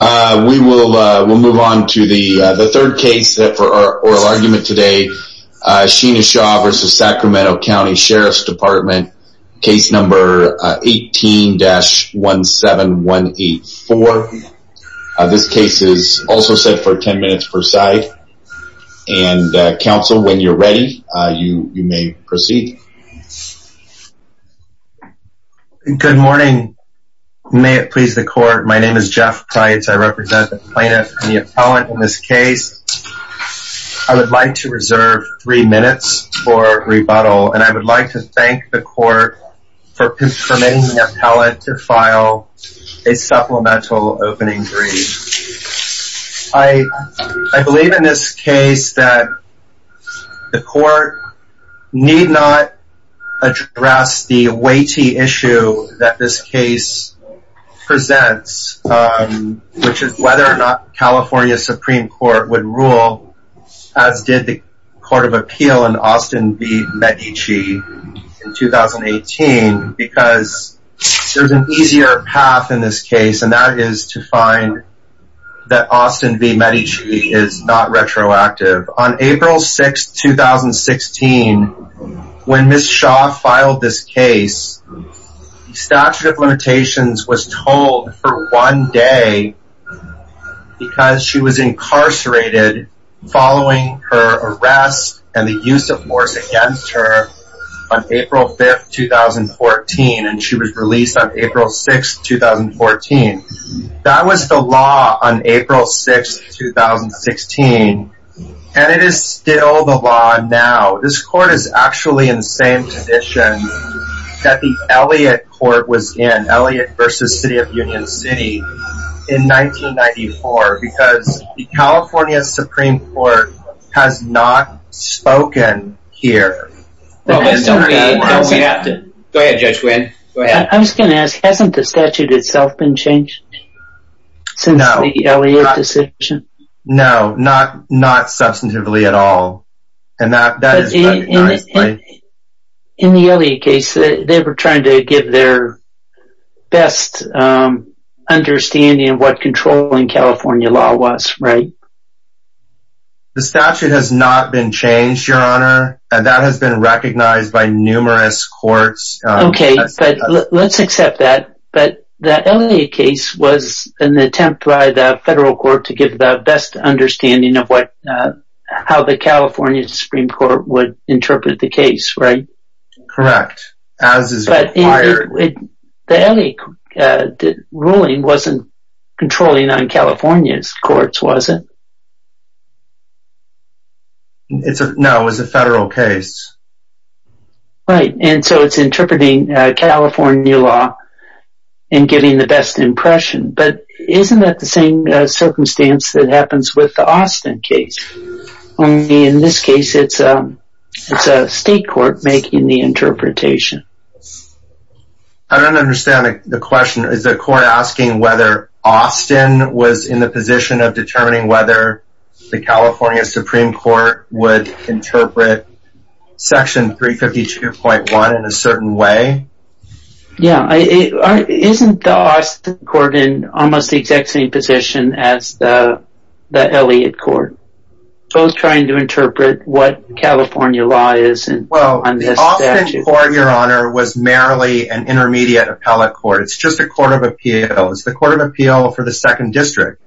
We will move on to the third case for our oral argument today, Sheena Shaw v. Sac. County Sheriff's Department, case number 18-17184. This case is also set for 10 minutes per side, and counsel, when you're ready, you may proceed. Good morning, may it please the court. My name is Jeff Price, I represent the plaintiff and the appellant in this case. I would like to reserve three minutes for rebuttal, and I would like to thank the court for permitting the appellant to file a supplemental opening brief. I believe in this case that the court need not address the weighty issue that this case presents, which is whether or not California Supreme Court would rule, as did the Court of Appeal in Austin v. Medici in 2018, because there's an easier path in this case, and that is to find that Austin v. Medici is not retroactive. On April 6, 2016, when Ms. Shaw filed this case, the statute of limitations was told for one day because she was incarcerated following her arrest and the use of force against her on April 5, 2014, and she was released on April 6, 2014. That was the law on April 6, 2016, and it is still the law now. This court is actually in the same position that the Elliott court was in, Elliott v. City of Union City, in 1994, because the California Supreme Court has not spoken here. I was going to ask, hasn't the statute itself been changed since the Elliott decision? No, not substantively at all. In the Elliott case, they were trying to give their best understanding of what controlling California law was, right? The statute has not been changed, Your Honor, and that has been recognized by numerous courts. Let's accept that. The Elliott case was an attempt by the federal court to give the best understanding of how the California Supreme Court would interpret the case, right? Correct, as is required. The Elliott ruling wasn't controlling on California's courts, was it? No, it was a federal case. Right, and so it's interpreting California law and giving the best impression, but isn't that the same circumstance that happens with the Austin case? Only in this case, it's a state court making the interpretation. I don't understand the question. Is the court asking whether Austin was in the position of determining whether the California Supreme Court would interpret Section 352.1 in a certain way? Yeah, isn't the Austin court in almost the exact same position as the Elliott court? Both trying to interpret what California law is on this statute. The Elliott court, Your Honor, was merely an intermediate appellate court. It's just a court of appeal. It's the court of appeal for the second district.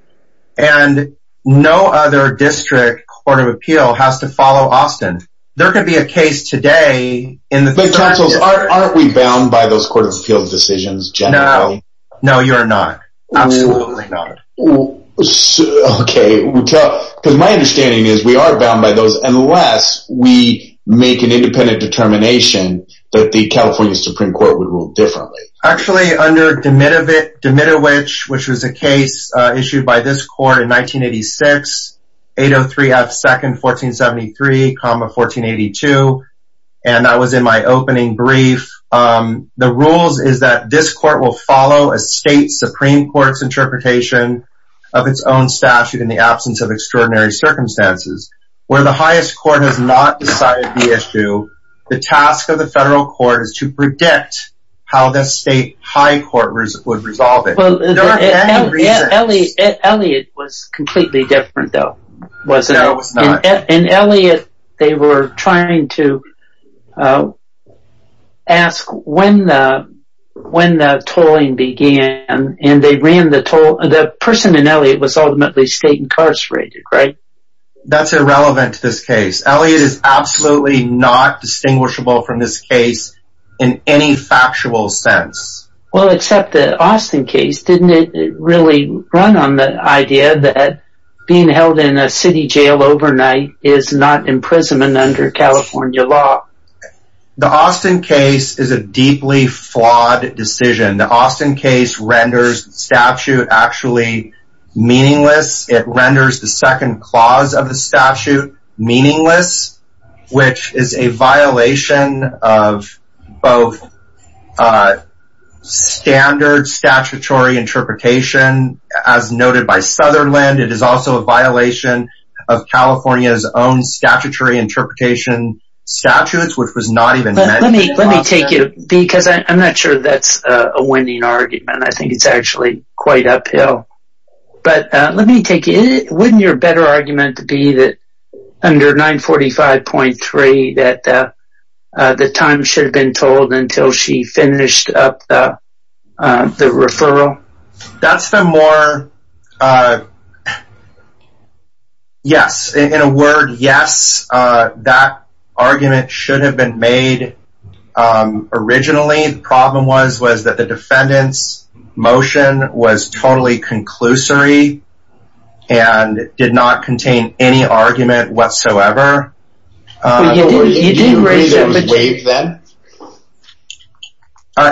And no other district court of appeal has to follow Austin. There could be a case today... But counsel, aren't we bound by those court of appeals decisions generally? No, you're not. Absolutely not. Okay, because my understanding is we are bound by those unless we make an independent determination that the California Supreme Court would rule differently. Actually, under Demidovich, which was a case issued by this court in 1986, 803 F. 2nd, 1473, 1482, and that was in my opening brief, the rules is that this court will follow a state Supreme Court's interpretation of its own statute in the absence of extraordinary circumstances. Where the highest court has not decided the issue, the task of the federal court is to predict how the state high court would resolve it. There are many reasons. Elliott was completely different though, wasn't it? No, it was not. In Elliott, they were trying to ask when the tolling began. And the person in Elliott was ultimately state incarcerated, right? That's irrelevant to this case. Elliott is absolutely not distinguishable from this case in any factual sense. Well, except the Austin case, didn't it really run on the idea that being held in a city jail overnight is not imprisonment under California law? The Austin case is a deeply flawed decision. The Austin case renders statute actually meaningless. It renders the second clause of the statute meaningless, which is a violation of both standard statutory interpretation, as noted by Sutherland. It is also a violation of California's own statutory interpretation statutes, which was not even mentioned. Let me take you, because I'm not sure that's a winning argument. I think it's actually quite uphill. But let me take you, wouldn't your better argument be that under 945.3 that the time should have been told until she finished up the referral? That's the more, yes. In a word, yes. That argument should have been made originally. The problem was, was that the defendant's motion was totally conclusory and did not contain any argument whatsoever. You didn't raise that?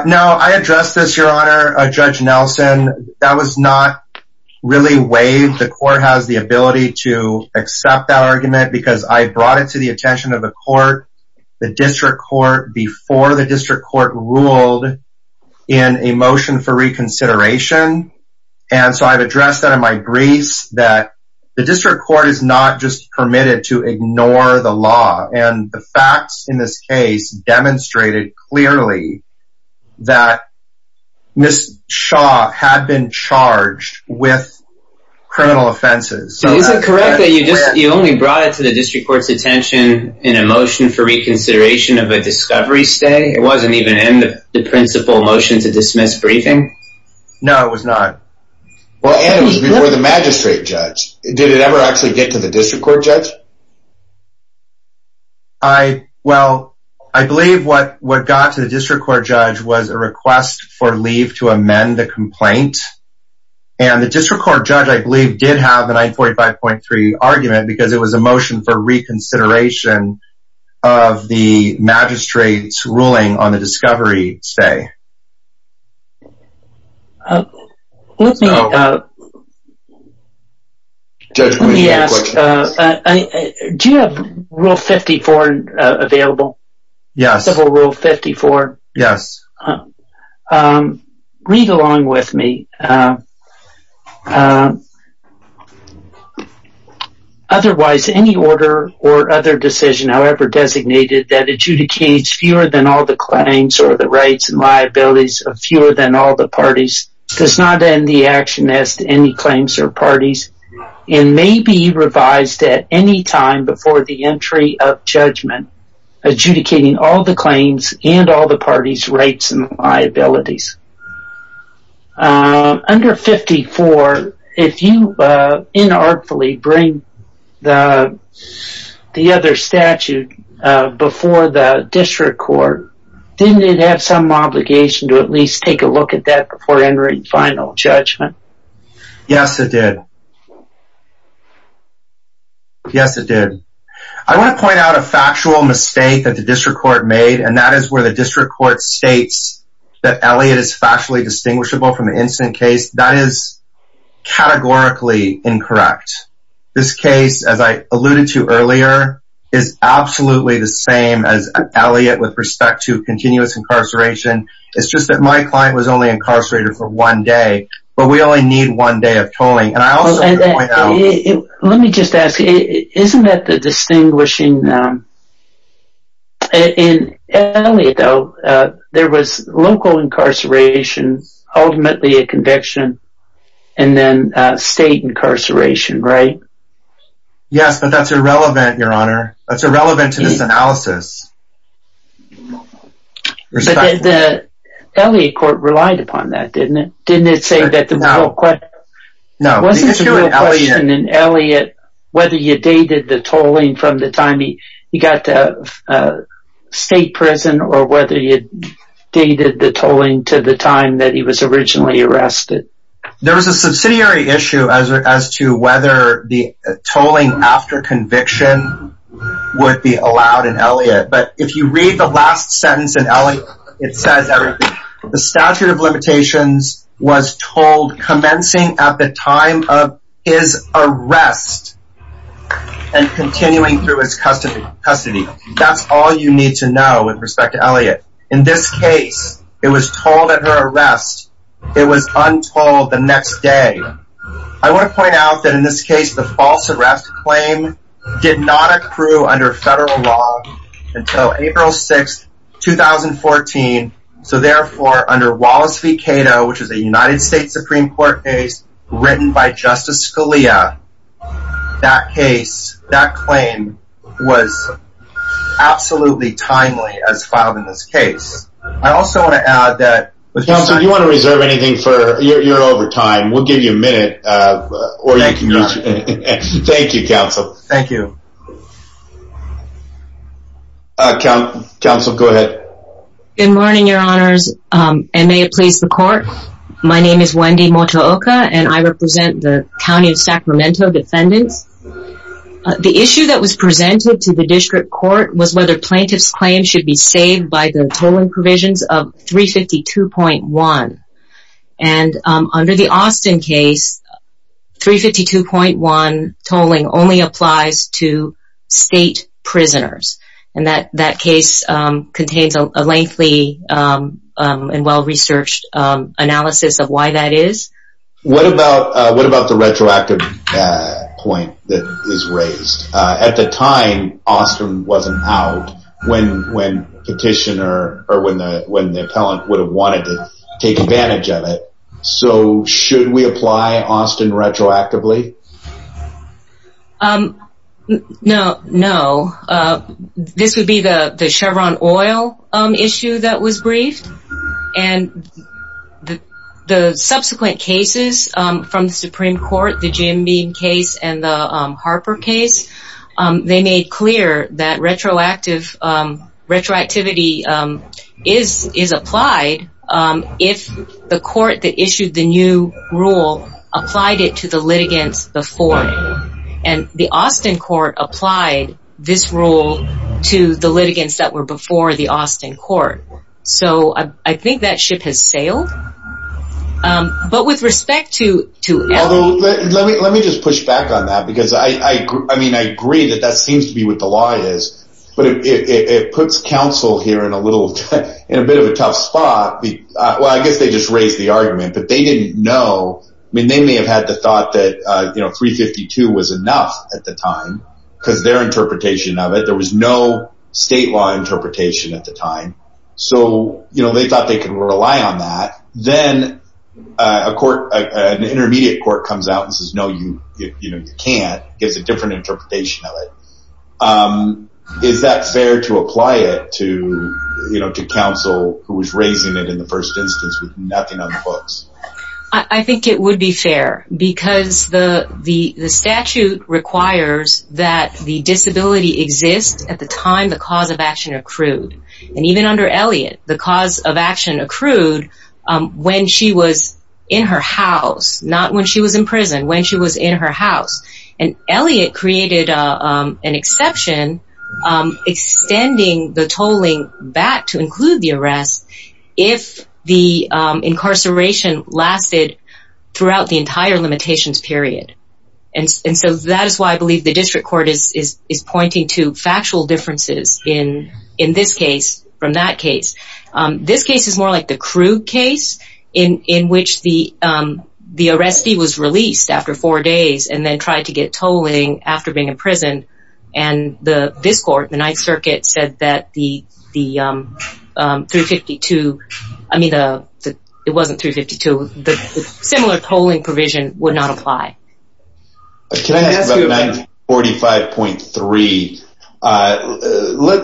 No, I addressed this, Your Honor, Judge Nelson, that was not really waived. The court has the ability to accept that argument because I brought it to the attention of the court. The district court before the district court ruled in a motion for reconsideration. And so I've addressed that in my briefs that the district court is not just permitted to ignore the law. And the facts in this case demonstrated clearly that Ms. Shaw had been charged with criminal offenses. Is it correct that you only brought it to the district court's attention in a motion for reconsideration of a discovery stay? It wasn't even in the principal motion to dismiss briefing? No, it was not. And it was before the magistrate judge. Did it ever actually get to the district court judge? Well, I believe what got to the district court judge was a request for leave to amend the complaint. And the district court judge, I believe, did have a 945.3 argument because it was a motion for reconsideration of the magistrate's ruling on the discovery stay. Let me ask, do you have Rule 54 available? Yes. Civil Rule 54? Yes. Read along with me. Otherwise, any order or other decision however designated that adjudicates fewer than all the claims or the rights and liabilities of fewer than all the parties does not end the action as to any claims or parties. And may be revised at any time before the entry of judgment adjudicating all the claims and all the parties' rights and liabilities. Under 54, if you inartfully bring the other statute before the district court, didn't it have some obligation to at least take a look at that before entering final judgment? Yes, it did. Yes, it did. I want to point out a factual mistake that the district court made, and that is where the district court states that Elliot is factually distinguishable from the incident case. That is categorically incorrect. This case, as I alluded to earlier, is absolutely the same as Elliot with respect to continuous incarceration. It's just that my client was only incarcerated for one day, but we only need one day of tolling. Let me just ask, isn't that the distinguishing... In Elliot, though, there was local incarceration, ultimately a conviction, and then state incarceration, right? Yes, but that's irrelevant, Your Honor. That's irrelevant to this analysis. The Elliot court relied upon that, didn't it? No. Wasn't there a question in Elliot whether you dated the tolling from the time he got to state prison or whether you dated the tolling to the time that he was originally arrested? There was a subsidiary issue as to whether the tolling after conviction would be allowed in Elliot, but if you read the last sentence in Elliot, it says everything. The statute of limitations was told commencing at the time of his arrest and continuing through his custody. That's all you need to know with respect to Elliot. In this case, it was told at her arrest. It was untold the next day. I want to point out that in this case, the false arrest claim did not accrue under federal law until April 6, 2014. Therefore, under Wallace v. Cato, which is a United States Supreme Court case written by Justice Scalia, that claim was absolutely timely as filed in this case. I also want to add that... Counsel, do you want to reserve anything? You're over time. We'll give you a minute. Thank you, Your Honor. Thank you, Counsel. Thank you. Counsel, go ahead. Good morning, Your Honors, and may it please the Court. My name is Wendy Motaoka, and I represent the County of Sacramento defendants. The issue that was presented to the District Court was whether plaintiffs' claims should be saved by the tolling provisions of 352.1. And under the Austin case, 352.1 tolling only applies to state prisoners. And that case contains a lengthy and well-researched analysis of why that is. What about the retroactive point that is raised? At the time, Austin wasn't out when petitioner or when the appellant would have wanted to take advantage of it. So, should we apply Austin retroactively? No. This would be the Chevron oil issue that was briefed. And the subsequent cases from the Supreme Court, the Jim Beam case and the Harper case, they made clear that retroactivity is applied if the court that issued the new rule applied it to the litigants before. And the Austin court applied this rule to the litigants that were before the Austin court. So, I think that ship has sailed. But with respect to… Let me just push back on that because I agree that that seems to be what the law is. But it puts counsel here in a bit of a tough spot. Well, I guess they just raised the argument. But they didn't know. I mean, they may have had the thought that 352 was enough at the time because their interpretation of it. There was no state law interpretation at the time. So, they thought they could rely on that. Then an intermediate court comes out and says, no, you can't. Gives a different interpretation of it. Is that fair to apply it to counsel who was raising it in the first instance with nothing on the books? I think it would be fair because the statute requires that the disability exists at the time the cause of action accrued. And even under Elliott, the cause of action accrued when she was in her house, not when she was in prison, when she was in her house. And Elliott created an exception extending the tolling back to include the arrest if the incarceration lasted throughout the entire limitations period. And so, that is why I believe the district court is pointing to factual differences in this case from that case. This case is more like the crude case in which the arrestee was released after four days and then tried to get tolling after being in prison. And this court, the Ninth Circuit, said that the 352, I mean, it wasn't 352, the similar tolling provision would not apply. Can I ask about 945.3?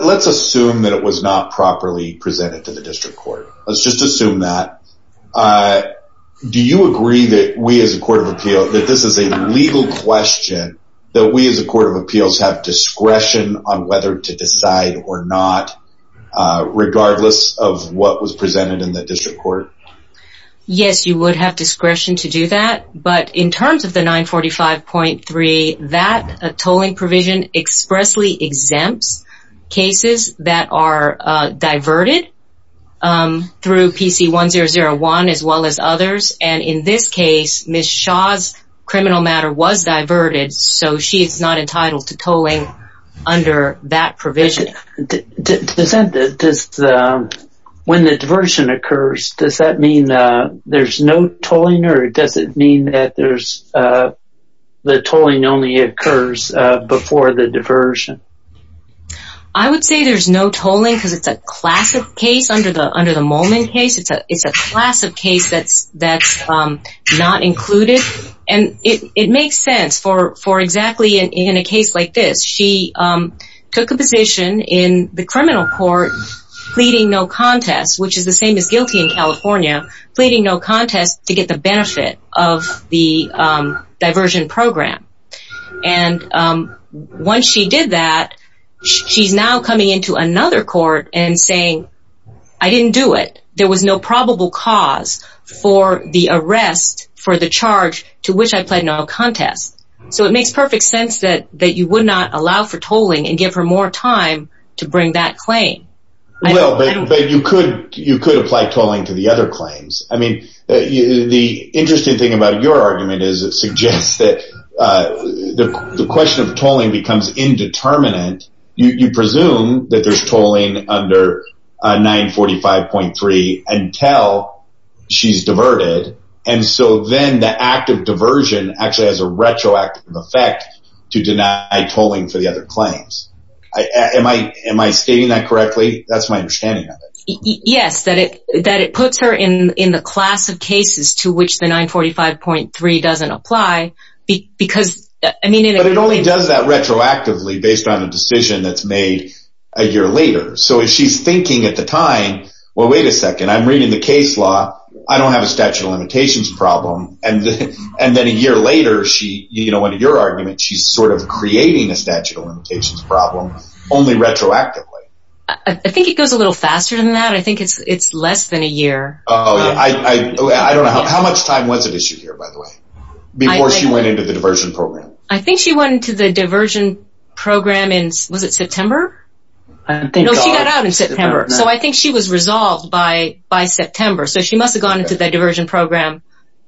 Let's assume that it was not properly presented to the district court. Let's just assume that. Do you agree that we as a court of appeal, that this is a legal question, that we as a court of appeals have discretion on whether to decide or not, regardless of what was presented in the district court? Yes, you would have discretion to do that. But in terms of the 945.3, that tolling provision expressly exempts cases that are diverted through PC 1001 as well as others. And in this case, Ms. Shaw's criminal matter was diverted, so she is not entitled to tolling under that provision. When the diversion occurs, does that mean there's no tolling or does it mean that the tolling only occurs before the diversion? I would say there's no tolling because it's a class of case under the Molman case. It's a class of case that's not included. It makes sense for exactly in a case like this. She took a position in the criminal court pleading no contest, which is the same as guilty in California, pleading no contest to get the benefit of the diversion program. And once she did that, she's now coming into another court and saying, I didn't do it. There was no probable cause for the arrest for the charge to which I pled no contest. So it makes perfect sense that you would not allow for tolling and give her more time to bring that claim. Well, but you could apply tolling to the other claims. I mean, the interesting thing about your argument is it suggests that the question of tolling becomes indeterminate. You presume that there's tolling under 945.3 until she's diverted. And so then the act of diversion actually has a retroactive effect to deny tolling for the other claims. Am I stating that correctly? That's my understanding of it. Yes, that it puts her in the class of cases to which the 945.3 doesn't apply. But it only does that retroactively based on a decision that's made a year later. So if she's thinking at the time, well, wait a second, I'm reading the case law. I don't have a statute of limitations problem. And then a year later, she, you know, under your argument, she's sort of creating a statute of limitations problem only retroactively. I think it goes a little faster than that. I think it's less than a year. I don't know. How much time was it issued here, by the way, before she went into the diversion program? I think she went into the diversion program in, was it September? No, she got out in September. So I think she was resolved by September. So she must have gone into the diversion program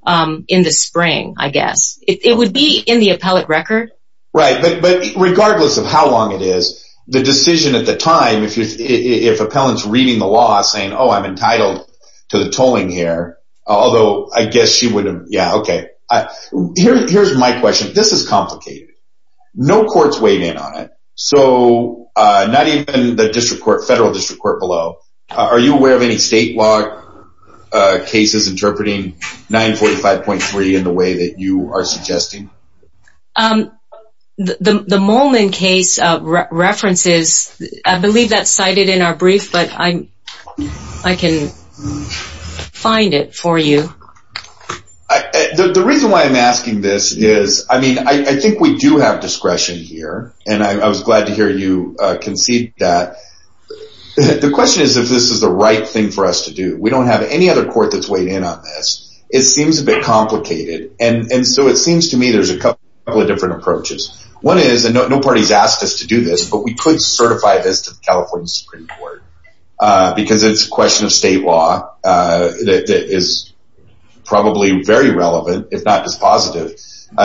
in the spring, I guess. It would be in the appellate record. Right. But regardless of how long it is, the decision at the time, if appellant's reading the law saying, oh, I'm entitled to the tolling here, although I guess she would have, yeah, okay. Here's my question. This is complicated. No court's weighed in on it. So not even the district court, federal district court below. Are you aware of any state law cases interpreting 945.3 in the way that you are suggesting? The Molen case references, I believe that's cited in our brief, but I can find it for you. The reason why I'm asking this is, I mean, I think we do have discretion here, and I was glad to hear you concede that. The question is if this is the right thing for us to do. We don't have any other court that's weighed in on this. It seems a bit complicated. And so it seems to me there's a couple of different approaches. One is, and no party's asked us to do this, but we could certify this to the California Supreme Court because it's a question of state law that is probably very relevant, if not just positive,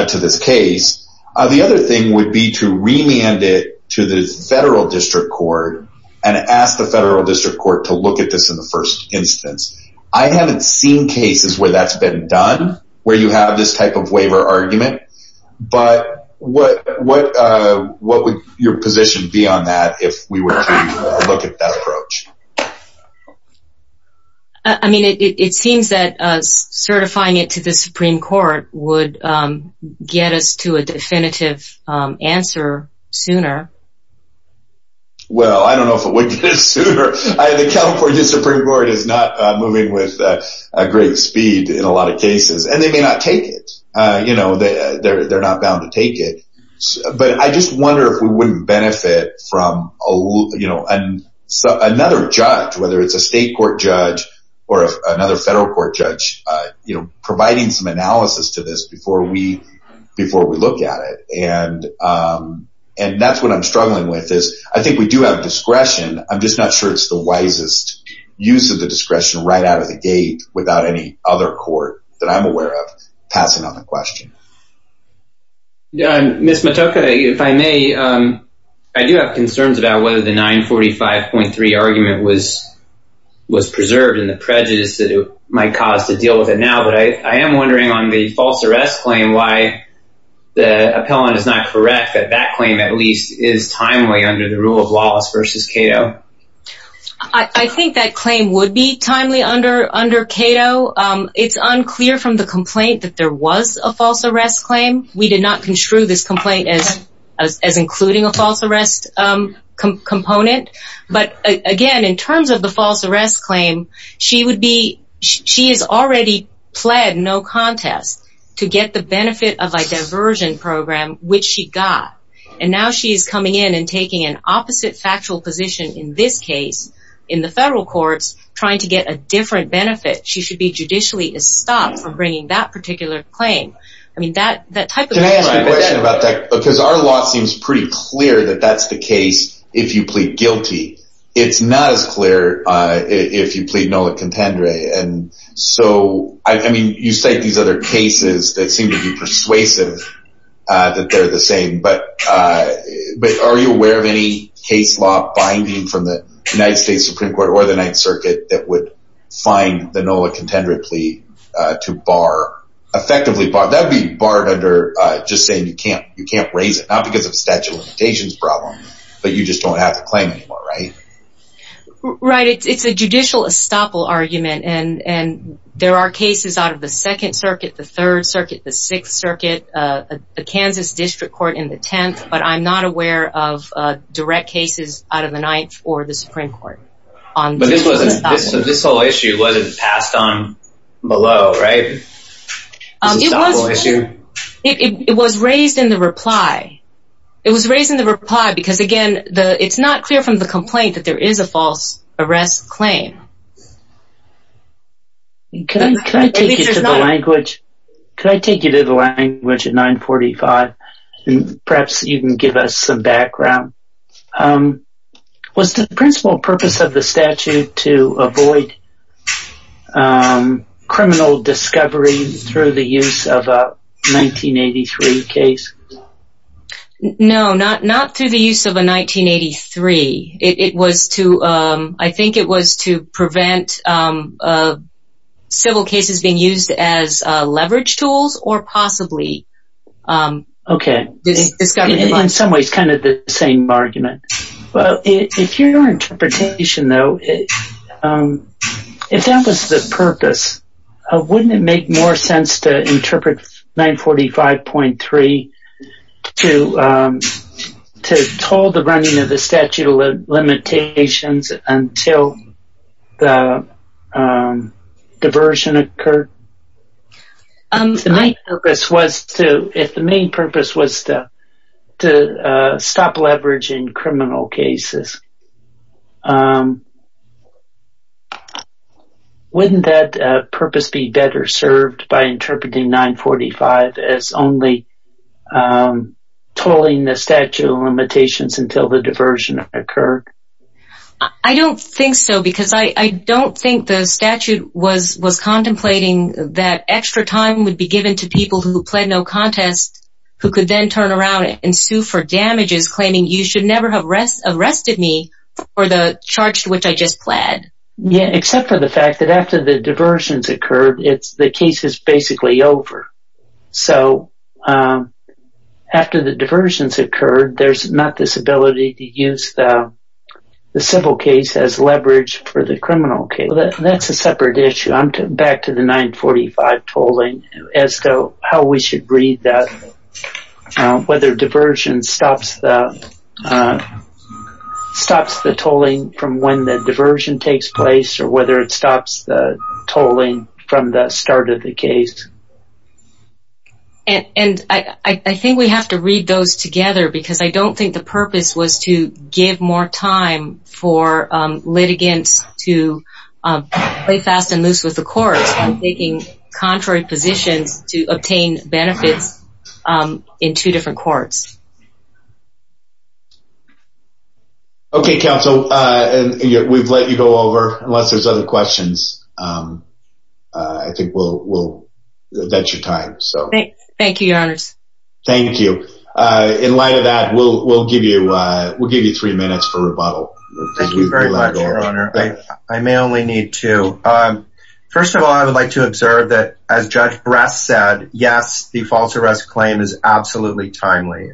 to this case. The other thing would be to remand it to the federal district court and ask the federal district court to look at this in the first instance. I haven't seen cases where that's been done, where you have this type of waiver argument. But what would your position be on that if we were to look at that approach? I mean, it seems that certifying it to the Supreme Court would get us to a definitive answer sooner. Well, I don't know if it would get us sooner. The California Supreme Court is not moving with great speed in a lot of cases. And they may not take it. They're not bound to take it. But I just wonder if we wouldn't benefit from another judge, whether it's a state court judge or another federal court judge, providing some analysis to this before we look at it. And that's what I'm struggling with is I think we do have discretion. I'm just not sure it's the wisest use of the discretion right out of the gate without any other court that I'm aware of passing on the question. Ms. Motoka, if I may, I do have concerns about whether the 945.3 argument was preserved in the prejudice that it might cause to deal with it now. But I am wondering on the false arrest claim why the appellant is not correct that that claim at least is timely under the rule of laws versus Cato. I think that claim would be timely under Cato. It's unclear from the complaint that there was a false arrest claim. We did not construe this complaint as including a false arrest component. But, again, in terms of the false arrest claim, she is already pled no contest to get the benefit of a diversion program, which she got. And now she's coming in and taking an opposite factual position in this case in the federal courts trying to get a different benefit. She should be judicially stopped from bringing that particular claim. Can I ask a question about that? Because our law seems pretty clear that that's the case if you plead guilty. It's not as clear if you plead nola contendere. And so, I mean, you cite these other cases that seem to be persuasive that they're the same. But are you aware of any case law binding from the United States Supreme Court or the Ninth Circuit that would find the nola contendere plea to bar, effectively bar? That would be barred under just saying you can't raise it, not because of a statute of limitations problem, but you just don't have the claim anymore, right? Right. It's a judicial estoppel argument. And there are cases out of the Second Circuit, the Third Circuit, the Sixth Circuit, the Kansas District Court in the Tenth. But I'm not aware of direct cases out of the Ninth or the Supreme Court. But this whole issue wasn't passed on below, right? It was raised in the reply. It was raised in the reply because, again, it's not clear from the complaint that there is a false arrest claim. Can I take you to the language at 945 and perhaps you can give us some background? Was the principal purpose of the statute to avoid criminal discovery through the use of a 1983 case? No, not through the use of a 1983. I think it was to prevent civil cases being used as leverage tools or possibly discovery. Okay. In some ways, kind of the same argument. Well, if your interpretation, though, if that was the purpose, wouldn't it make more sense to interpret 945.3 to toll the running of the statute of limitations until the diversion occurred? If the main purpose was to stop leveraging criminal cases, wouldn't that purpose be better served by interpreting 945 as only tolling the statute of limitations until the diversion occurred? I don't think so because I don't think the statute was contemplating that extra time would be given to people who pled no contest who could then turn around and sue for damages claiming you should never have arrested me for the charge to which I just pled. Except for the fact that after the diversions occurred, the case is basically over. So, after the diversions occurred, there's not this ability to use the civil case as leverage for the criminal case. Well, that's a separate issue. I'm back to the 945 tolling as to how we should read that, whether diversion stops the tolling from when the diversion takes place or whether it stops the tolling from the start of the case. And I think we have to read those together because I don't think the purpose was to give more time for litigants to play fast and loose with the courts. I'm taking contrary positions to obtain benefits in two different courts. Okay, counsel. We've let you go over unless there's other questions. I think that's your time. Thank you, your honors. Thank you. In light of that, we'll give you three minutes for rebuttal. Thank you very much, your honor. I may only need two. First of all, I would like to observe that, as Judge Brass said, yes, the false arrest claim is absolutely timely.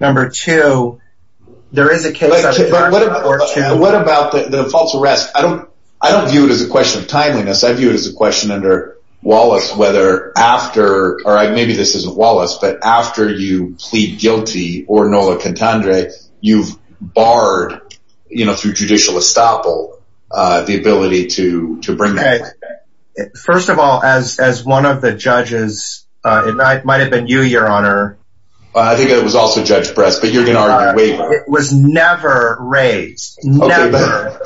Number two, there is a case... But what about the false arrest? I don't view it as a question of timeliness. I view it as a question under Wallace whether after, or maybe this isn't Wallace, but after you plead guilty or Nola Cantandre, you've barred, you know, through judicial estoppel, the ability to bring the claim back. First of all, as one of the judges, it might have been you, your honor. I think it was also Judge Brass, but you're going to argue waiver. It was never raised. Never.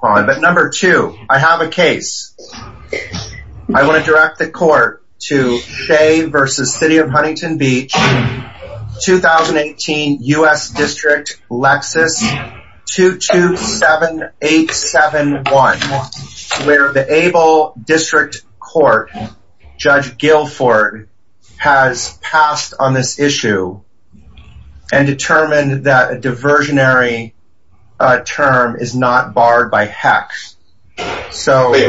But number two, I have a case. I want to direct the court to Shea v. City of Huntington Beach, 2018, U.S. District, Lexis 227871, where the Able District Court, Judge Guilford has passed on this issue and determined that a diversionary term is not barred by HECS.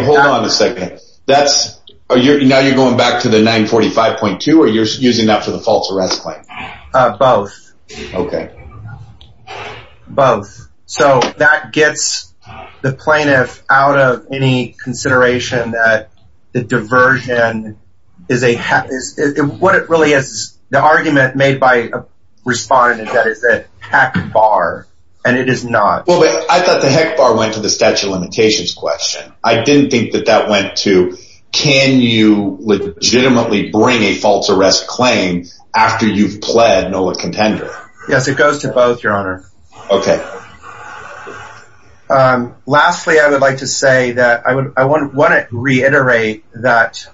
Hold on a second. Now you're going back to the 945.2, or you're using that for the false arrest claim? Both. Okay. Both. So that gets the plaintiff out of any consideration that the diversion is a HECS. What it really is, the argument made by a respondent is that it's a HECS bar, and it is not. I thought the HECS bar went to the statute of limitations question. I didn't think that that went to, can you legitimately bring a false arrest claim after you've pled NOLA contender? Yes, it goes to both, your honor. Okay. Lastly, I would like to say that I want to reiterate that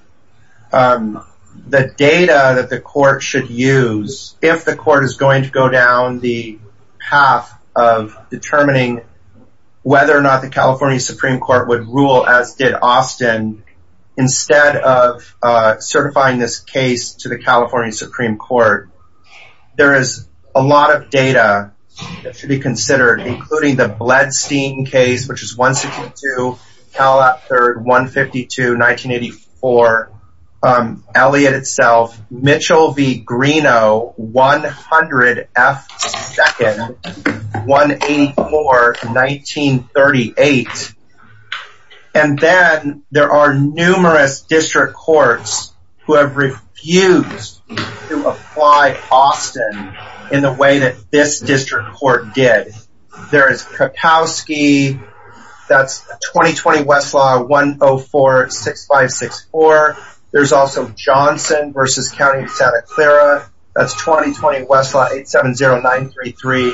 the data that the court should use, if the court is going to go down the path of determining whether or not the California Supreme Court would rule, as did Austin, instead of certifying this case to the California Supreme Court, there is a lot of data that should be considered, including the Bledstein case, which is 162, Calif. 3rd, 152, 1984, Elliot itself, Mitchell v. Greenough, 100 F. 2nd, 184, 1938. And then there are numerous district courts who have refused to apply Austin in the way that this district court did. There is Kapowski. That's 2020 Westlaw 104-6564. There's also Johnson v. County of Santa Clara. That's 2020 Westlaw 870933.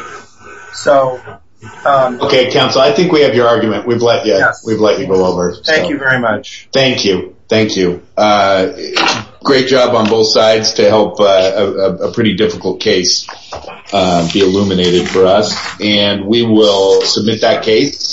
Okay, counsel, I think we have your argument. We've let you go over. Thank you very much. Thank you. Thank you. Great job on both sides to help a pretty difficult case be illuminated for us. And we will submit that case.